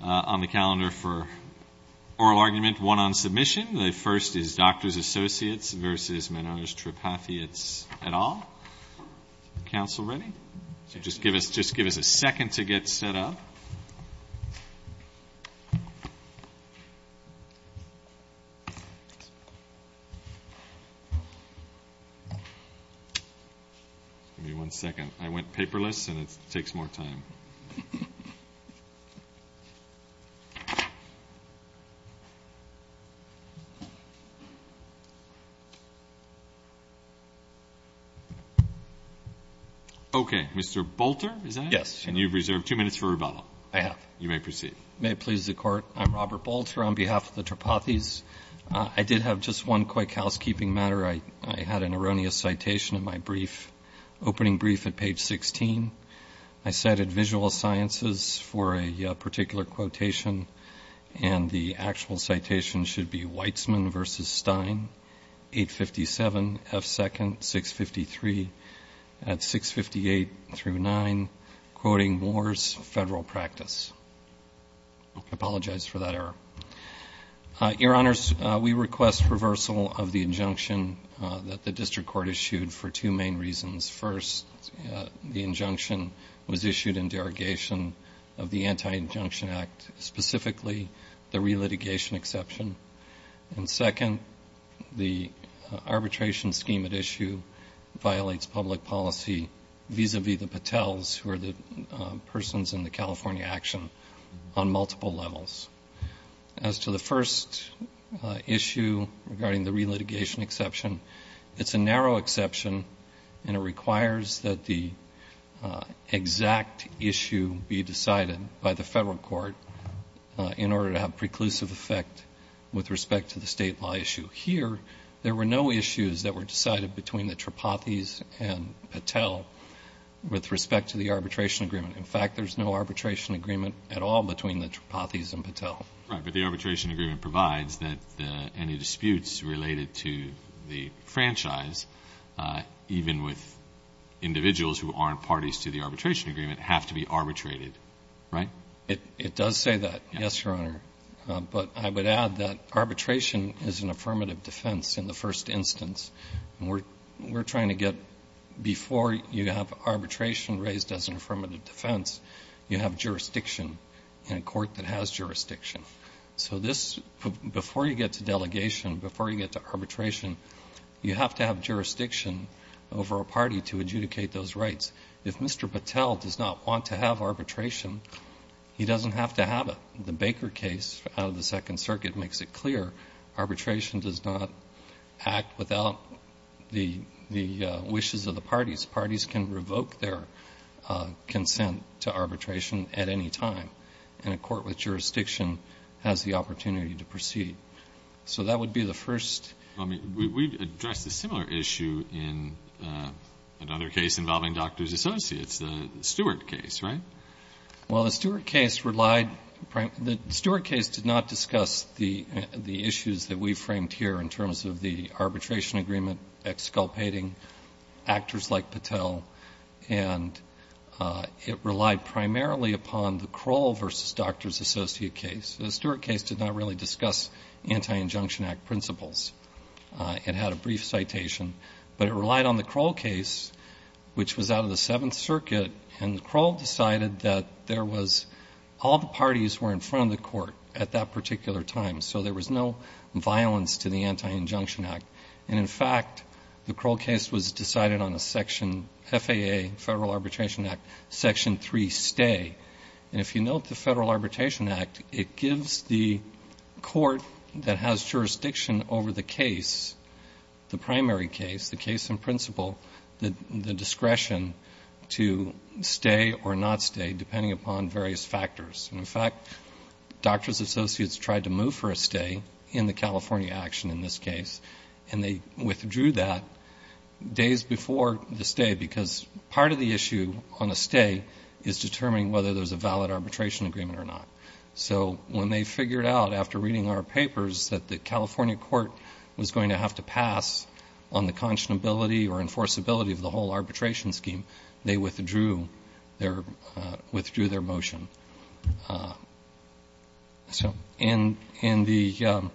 on the calendar for oral argument, one on submission. The first is Doctors Associates v. Menards-Tropathy, it's at all. Council ready? So just give us a second to get set up. Give me one second. I went paperless and it takes more time. Okay. Mr. Bolter, is that it? Yes. And you've reserved two minutes for rebuttal. I have. You may proceed. And the actual citation should be Weitzman v. Stein, 857 F. 2nd, 653 at 658-9, quoting Moore's Federal Practice. I apologize for that error. Your Honors, we request reversal of the injunction that the District Court issued for two main reasons. First, the injunction was issued in derogation of the Anti-Injunction Act, specifically to the relitigation exception. And second, the arbitration scheme at issue violates public policy vis-à-vis the Patels, who are the persons in the California action, on multiple levels. As to the first issue regarding the relitigation exception, it's a narrow exception, and it requires that the exact issue be decided by the Federal Court. In order to have preclusive effect with respect to the State law issue here, there were no issues that were decided between the Tripathys and Patel with respect to the arbitration agreement. In fact, there's no arbitration agreement at all between the Tripathys and Patel. Right, but the arbitration agreement provides that any disputes related to the franchise, even with individuals who aren't parties to the arbitration agreement, have to be arbitrated, right? It does say that, yes, Your Honor. But I would add that arbitration is an affirmative defense in the first instance. And we're trying to get, before you have arbitration raised as an affirmative defense, you have jurisdiction in a court that has jurisdiction. So this, before you get to delegation, before you get to arbitration, you have to have jurisdiction over a party to adjudicate those rights. If Mr. Patel does not want to have arbitration, he doesn't have to have it. The Baker case out of the Second Circuit makes it clear. Arbitration does not act without the wishes of the parties. Parties can revoke their consent to arbitration at any time. And a court with jurisdiction has the opportunity to proceed. So that would be the first. Well, I mean, we've addressed a similar issue in another case involving Doctors Associates, the Stewart case, right? Well, the Stewart case did not discuss the issues that we framed here in terms of the arbitration agreement exculpating actors like Patel. And it relied primarily upon the Kroll v. Doctors Associate case. The Stewart case did not really discuss Anti-Injunction Act principles. It had a brief citation, but it relied on the Kroll case, which was out of the Seventh Circuit, and Kroll decided that there was all the parties were in front of the court at that particular time, so there was no violence to the Anti-Injunction Act. And, in fact, the Kroll case was decided on a Section FAA, Federal Arbitration Act, Section 3 stay. And if you note the Federal Arbitration Act, it gives the court that has jurisdiction over the case, the primary case, the case in principle, the discretion to stay or not stay, depending upon various factors. And, in fact, Doctors Associates tried to move for a stay in the California action in this case, and they withdrew that days before the stay, because part of the issue on a stay is determining whether there's a valid arbitration agreement or not. So when they figured out, after reading our papers, that the California court was going to have to pass on the conscionability or enforceability of the whole arbitration scheme, they withdrew their motion. So the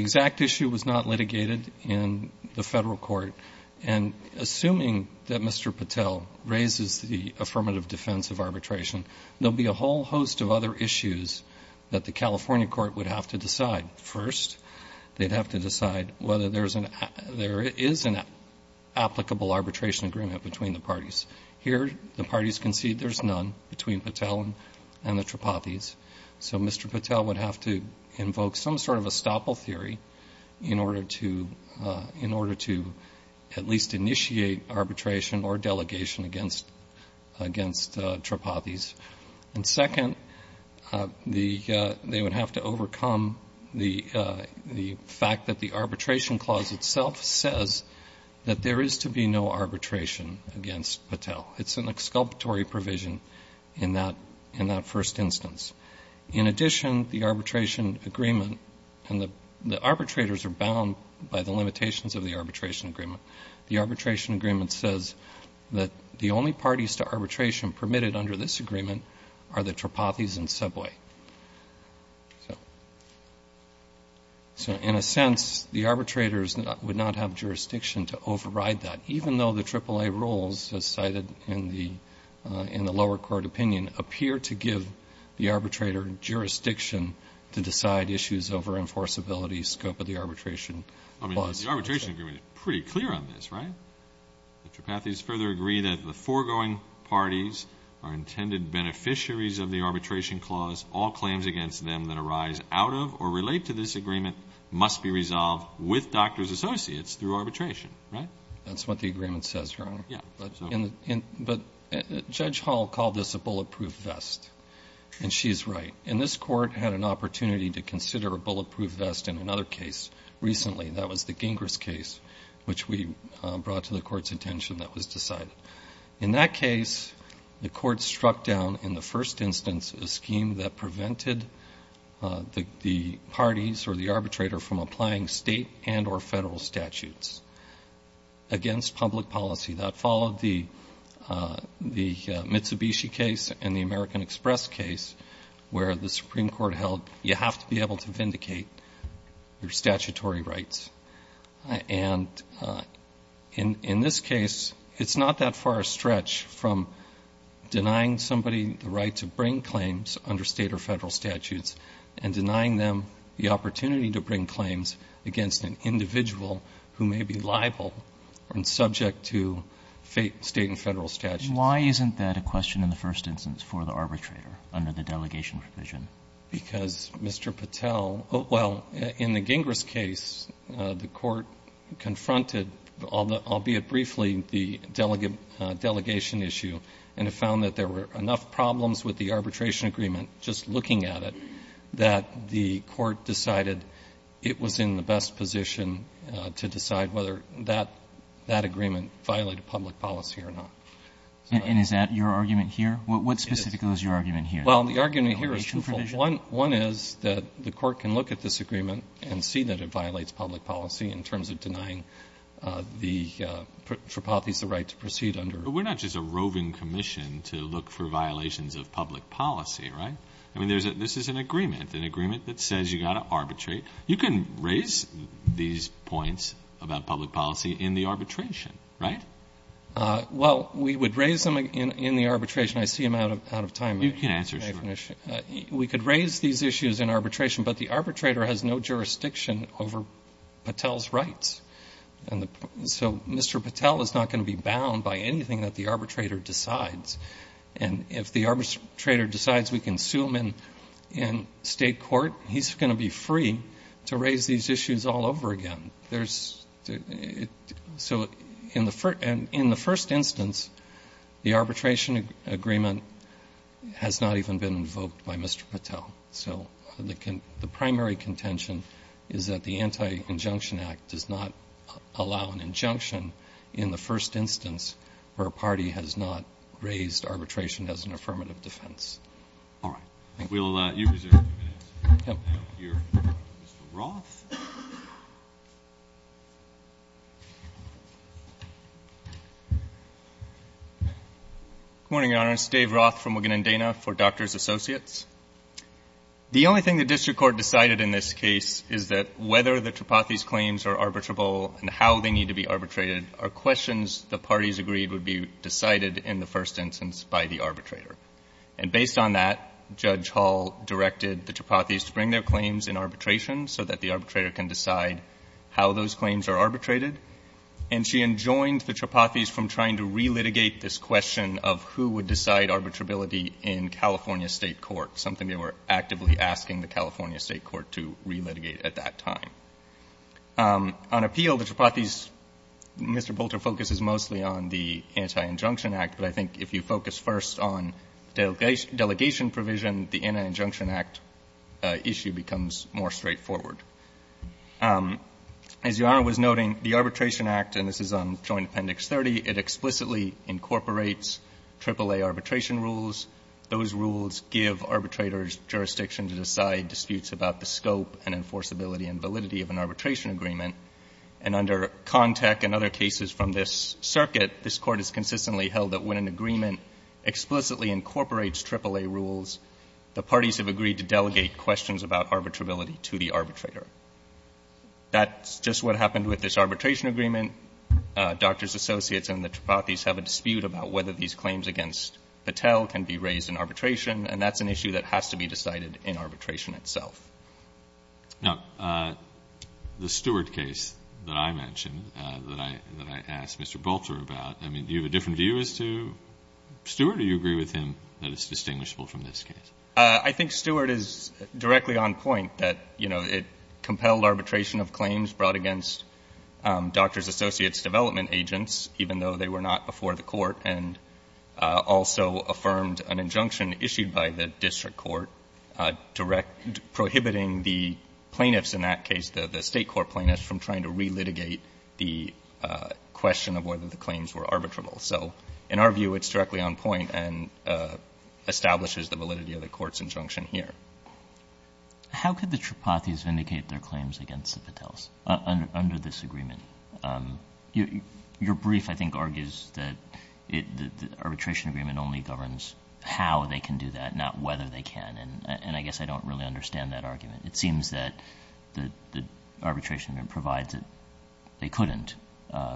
exact issue was not litigated in the federal court, and assuming that Mr. Patel raises the affirmative defense of arbitration, there'll be a whole host of other issues that the California court would have to decide. First, they'd have to decide whether there is an applicable arbitration agreement between the parties. Here, the parties concede there's none between Patel and the Tripathys, so Mr. Patel would have to invoke some sort of estoppel theory in order to, at least, initiate arbitration or delegation against Tripathys. And, second, they would have to overcome the fact that the arbitration clause itself says that there is to be no arbitration against Patel. It's an exculpatory provision in that first instance. In addition, the arbitration agreement, and the arbitrators are bound by the limitations of the arbitration agreement, the arbitration agreement says that the only parties to arbitration permitted under this agreement are the Tripathys and Seboye. So, in a sense, the arbitrators would not have jurisdiction to override that, even though the AAA rules, as cited in the lower court opinion, appear to give the arbitrator jurisdiction to decide issues over enforceability scope of the arbitration clause. I mean, the arbitration agreement is pretty clear on this, right? The Tripathys further agree that the foregoing parties are intended beneficiaries of the arbitration clause. All claims against them that arise out of or relate to this agreement must be resolved with doctor's associates through arbitration, right? That's what the agreement says, Your Honor. But Judge Hall called this a bulletproof vest, and she's right. And this court had an opportunity to consider a bulletproof vest in another case recently. That was the Gingras case, which we brought to the court's attention that was decided. In that case, the court struck down in the first instance a scheme that prevented the parties or the arbitrator from applying state and or federal statutes against public policy. That followed the Mitsubishi case and the American Express case, where the Supreme Court held you have to be able to vindicate your statutory rights. And in this case, it's not that far a stretch from denying somebody the right to bring claims under state or federal statutes and denying them the opportunity to bring claims against an individual who may be liable and subject to state and federal statutes. Why isn't that a question in the first instance for the arbitrator under the delegation provision? Because, Mr. Patel, well, in the Gingras case, the court confronted, albeit briefly, the delegation issue and found that there were enough problems with the arbitration agreement, just looking at it, that the court decided it was in the best position to decide whether that agreement violated public policy or not. And is that your argument here? What specifically is your argument here? Well, the argument here is twofold. One is that the court can look at this agreement and see that it violates public policy in terms of denying the Tripathi's the right to proceed under. But we're not just a roving commission to look for violations of public policy, right? I mean, this is an agreement, an agreement that says you've got to arbitrate. You can raise these points about public policy in the arbitration, right? Well, we would raise them in the arbitration. I see I'm out of time. You can answer. We could raise these issues in arbitration, but the arbitrator has no jurisdiction over Patel's rights. So Mr. Patel is not going to be bound by anything that the arbitrator decides. And if the arbitrator decides we can sue him in state court, he's going to be free to raise these issues all over again. So in the first instance, the arbitration agreement has not even been invoked by Mr. Patel. So the primary contention is that the Anti-Injunction Act does not allow an injunction in the first instance where a party has not raised arbitration as an affirmative defense. All right. Thank you. We'll let you reserve a few minutes. Mr. Roth? Good morning, Your Honor. This is Dave Roth from Wigan and Dana for Doctors Associates. The only thing the district court decided in this case is that whether the Tripathi's are arbitrable and how they need to be arbitrated are questions the parties agreed would be decided in the first instance by the arbitrator. And based on that, Judge Hall directed the Tripathi's to bring their claims in arbitration so that the arbitrator can decide how those claims are arbitrated. And she enjoined the Tripathi's from trying to relitigate this question of who would decide arbitrability in California state court, something they were actively asking the California state court to relitigate at that time. On appeal, the Tripathi's, Mr. Bolter focuses mostly on the Anti-Injunction Act, but I think if you focus first on delegation provision, the Anti-Injunction Act issue becomes more straightforward. As Your Honor was noting, the Arbitration Act, and this is on Joint Appendix 30, it explicitly incorporates AAA arbitration rules. Those rules give arbitrators jurisdiction to decide disputes about the scope and enforceability and validity of an arbitration agreement. And under CONTEC and other cases from this circuit, this court has consistently held that when an agreement explicitly incorporates AAA rules, the parties have agreed to delegate questions about arbitrability to the arbitrator. That's just what happened with this arbitration agreement. Doctors Associates and the Tripathi's have a dispute about whether these claims against Patel can be raised in arbitration, and that's an issue that has to be decided in arbitration itself. Now, the Stewart case that I mentioned, that I asked Mr. Bolter about, I mean, do you have a different view as to Stewart, or do you agree with him that it's distinguishable from this case? I think Stewart is directly on point that, you know, it compelled arbitration of claims brought against Doctors Associates development agents, even though they were not before the court, and also affirmed an injunction issued by the district court direct — prohibiting the plaintiffs in that case, the State court plaintiffs, from trying to relitigate the question of whether the claims were arbitrable. So in our view, it's directly on point and establishes the validity of the court's injunction here. How could the Tripathi's vindicate their claims against the Patels under this agreement? Your brief, I think, argues that the arbitration agreement only governs how they can do that, not whether they can. And I guess I don't really understand that argument. It seems that the arbitration agreement provides that they couldn't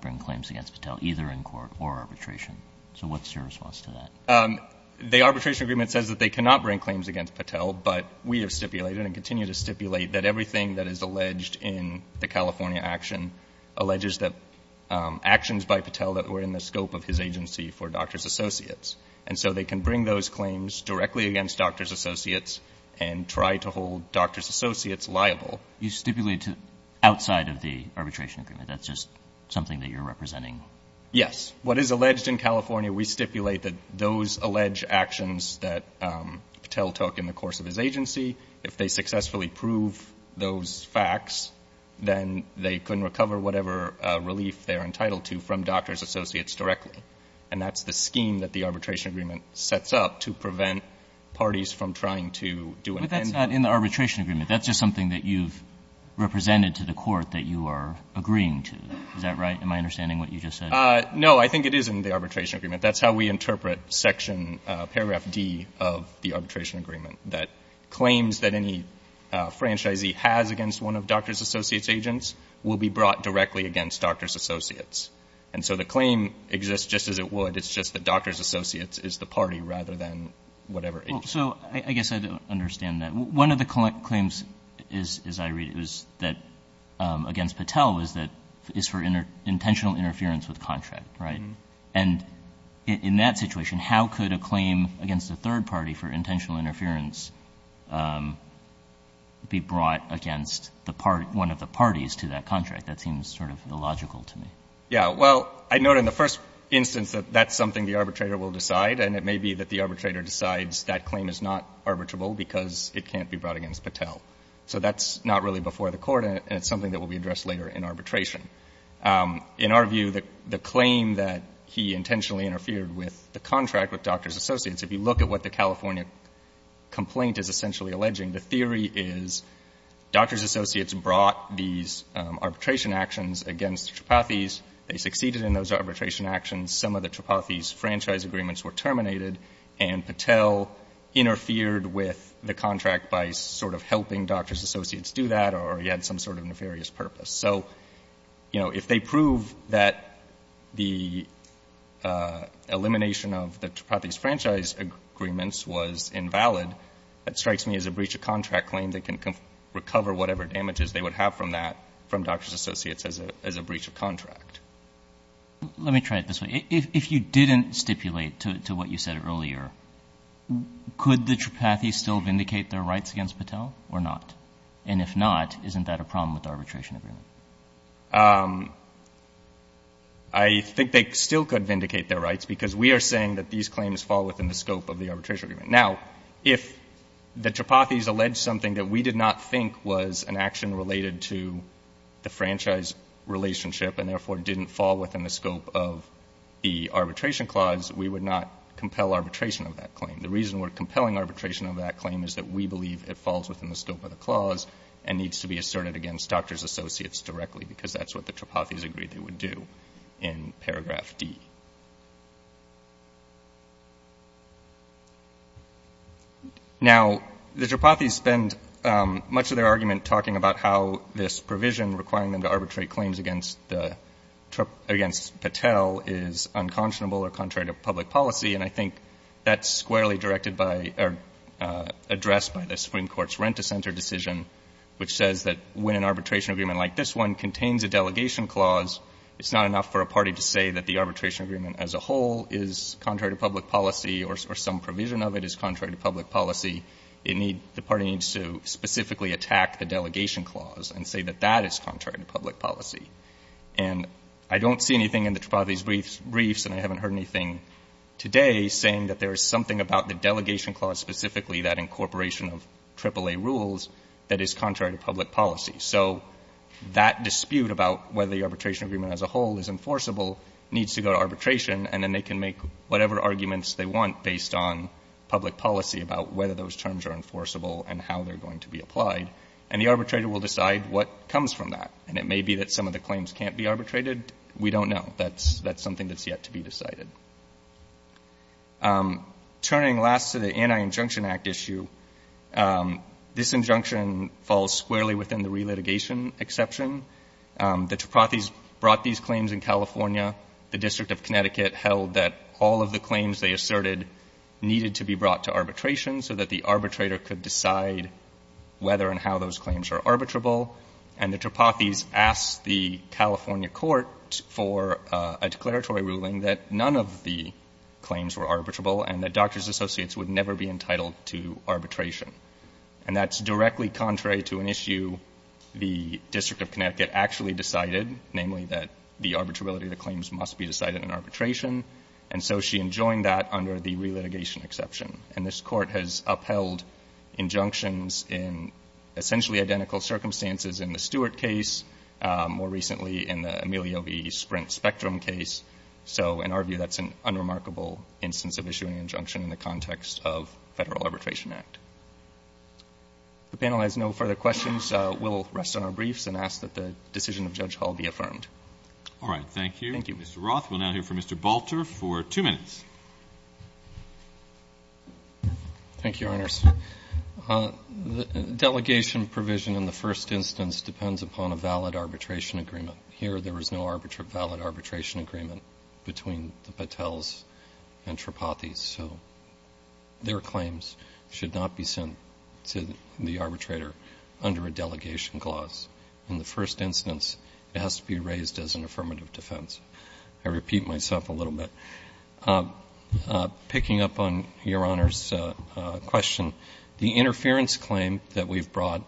bring claims against Patel, either in court or arbitration. So what's your response to that? The arbitration agreement says that they cannot bring claims against Patel, but we have stipulated and continue to stipulate that everything that is alleged in the California action alleges that actions by Patel that were in the scope of his agency for Doctors Associates. And so they can bring those claims directly against Doctors Associates and try to hold Doctors Associates liable. You stipulate outside of the arbitration agreement. That's just something that you're representing. Yes. What is alleged in California, we stipulate that those alleged actions that Patel took in the course of his agency, if they successfully prove those facts, then they couldn't recover whatever relief they're entitled to from Doctors Associates directly. And that's the scheme that the arbitration agreement sets up to prevent parties from trying to do an end to them. But that's not in the arbitration agreement. That's just something that you've represented to the court that you are agreeing to. Is that right? Am I understanding what you just said? No. I think it is in the arbitration agreement. That's how we interpret section paragraph D of the arbitration agreement. That claims that any franchisee has against one of Doctors Associates' agents will be brought directly against Doctors Associates. And so the claim exists just as it would. It's just that Doctors Associates is the party rather than whatever agency. So I guess I don't understand that. One of the claims, as I read it, was that against Patel is for intentional interference with contract. Right? And in that situation, how could a claim against a third party for intentional interference be brought against one of the parties to that contract? That seems sort of illogical to me. Yeah. Well, I note in the first instance that that's something the arbitrator will decide, and it may be that the arbitrator decides that claim is not arbitrable because it can't be brought against Patel. So that's not really before the court, and it's something that will be addressed later in arbitration. In our view, the claim that he intentionally interfered with the contract with Doctors Associates, if you look at what the California complaint is essentially alleging, the theory is Doctors Associates brought these arbitration actions against Tripathi's. They succeeded in those arbitration actions. Some of the Tripathi's franchise agreements were terminated, and Patel interfered with the contract by sort of helping Doctors Associates do that, or he had some sort of nefarious purpose. So, you know, if they prove that the elimination of the Tripathi's franchise agreements was invalid, that strikes me as a breach of contract claim that can recover whatever damages they would have from that from Doctors Associates as a breach of contract. Let me try it this way. If you didn't stipulate to what you said earlier, could the Tripathi's still vindicate their rights against Patel or not? And if not, isn't that a problem with the arbitration agreement? I think they still could vindicate their rights because we are saying that these claims fall within the scope of the arbitration agreement. Now, if the Tripathi's alleged something that we did not think was an action related to the franchise relationship and therefore didn't fall within the scope of the arbitration clause, we would not compel arbitration of that claim. The reason we're compelling arbitration of that claim is that we believe it falls within the scope of the clause and needs to be asserted against Doctors Associates directly, because that's what the Tripathi's agreed they would do in paragraph D. Now, the Tripathi's spend much of their argument talking about how this provision requiring them to arbitrate claims against Patel is unconscionable or contrary to public policy. And I think that's squarely directed by or addressed by the Supreme Court's rent-a-center decision, which says that when an arbitration agreement like this one contains a delegation clause, it's not enough for a party to say that the arbitration agreement as a whole is contrary to public policy or some provision of it is contrary to public policy. It needs — the party needs to specifically attack the delegation clause and say that that is contrary to public policy. And I don't see anything in the Tripathi's briefs, and I haven't heard anything today, saying that there is something about the delegation clause specifically that incorporation of AAA rules that is contrary to public policy. So that dispute about whether the arbitration agreement as a whole is enforceable needs to go to arbitration, and then they can make whatever arguments they want based on public policy about whether those terms are enforceable and how they're going to be applied. And the arbitrator will decide what comes from that. And it may be that some of the claims can't be arbitrated. We don't know. That's something that's yet to be decided. Turning last to the Anti-Injunction Act issue, this injunction falls squarely within the relitigation exception. The Tripathis brought these claims in California. The District of Connecticut held that all of the claims they asserted needed to be brought to arbitration so that the arbitrator could decide whether and how those claims are arbitrable. And the Tripathis asked the California court for a declaratory ruling that none of the claims were arbitrable and that doctors associates would never be entitled to arbitration. And that's directly contrary to an issue the District of Connecticut actually decided, namely that the arbitrability of the claims must be decided in arbitration. And so she enjoined that under the relitigation exception. And this court has upheld injunctions in essentially identical circumstances in the Stewart case, more recently in the Emilio v. Sprint Spectrum case. So in our view, that's an unremarkable instance of issuing injunction in the context of Federal Arbitration Act. If the panel has no further questions, we'll rest on our briefs and ask that the decision of Judge Hall be affirmed. All right. Thank you. Thank you. Mr. Roth, we'll now hear from Mr. Balter for two minutes. Thank you, Your Honors. Delegation provision in the first instance depends upon a valid arbitration agreement. Here, there was no valid arbitration agreement between the Patels and Tripathi. So their claims should not be sent to the arbitrator under a delegation clause. In the first instance, it has to be raised as an affirmative defense. I repeat myself a little bit. Picking up on Your Honor's question, the interference claim that we've brought,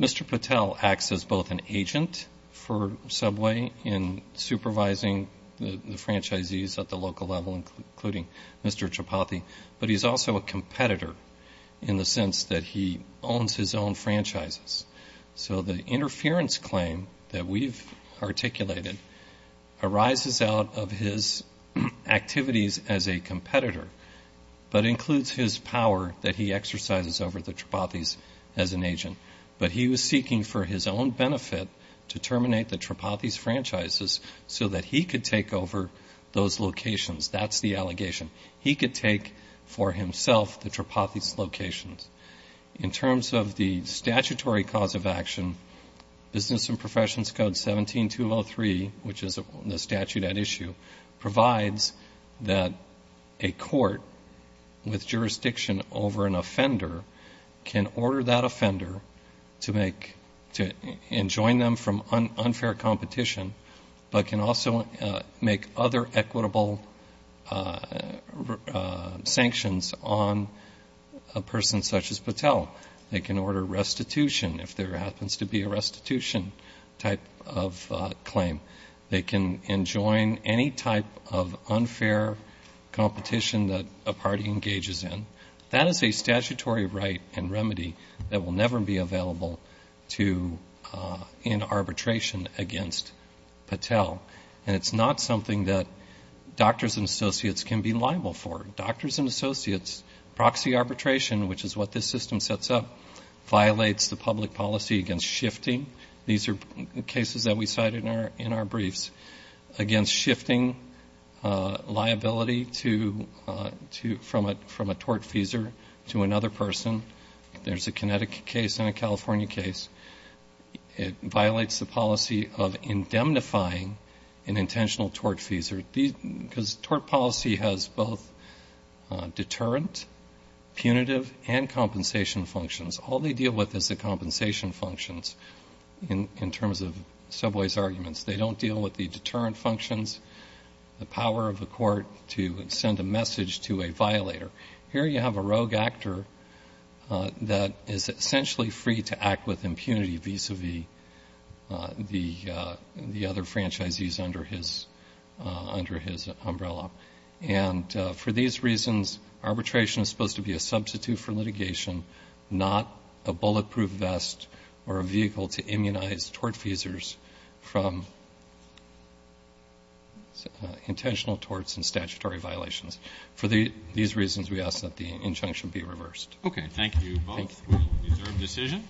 Mr. Patel acts as both an agent for Subway in supervising the franchisees at the local level, including Mr. Tripathi, but he's also a competitor in the sense that he owns his own franchises. So the interference claim that we've articulated arises out of his activities as a competitor, but includes his power that he exercises over the Tripathis as an agent. But he was seeking for his own benefit to terminate the Tripathis franchises so that he could take over those locations. That's the allegation. He could take for himself the Tripathis locations. In terms of the statutory cause of action, Business and Professions Code 17203, which is the statute at issue, provides that a court with jurisdiction over an offender can order that offender to enjoin them from unfair competition, but can also make other equitable sanctions on a person such as Patel. They can order restitution if there happens to be a restitution type of claim. They can enjoin any type of unfair competition that a party engages in. That is a statutory right and remedy that will never be available in arbitration against Patel. And it's not something that doctors and associates can be liable for. Doctors and associates, proxy arbitration, which is what this system sets up, violates the public policy against shifting. These are cases that we cite in our briefs. Against shifting liability from a tortfeasor to another person. There's a Connecticut case and a California case. It violates the policy of indemnifying an intentional tortfeasor. Because tort policy has both deterrent, punitive, and compensation functions. All they deal with is the compensation functions in terms of Subway's arguments. They don't deal with the deterrent functions, the power of the court to send a message to a violator. Here you have a rogue actor that is essentially free to act with impunity vis-à-vis the other franchisees under his umbrella. And for these reasons, arbitration is supposed to be a substitute for litigation, not a bulletproof vest or a vehicle to immunize tortfeasors from intentional torts and statutory violations. For these reasons, we ask that the injunction be reversed. Okay, thank you both. We'll reserve decision.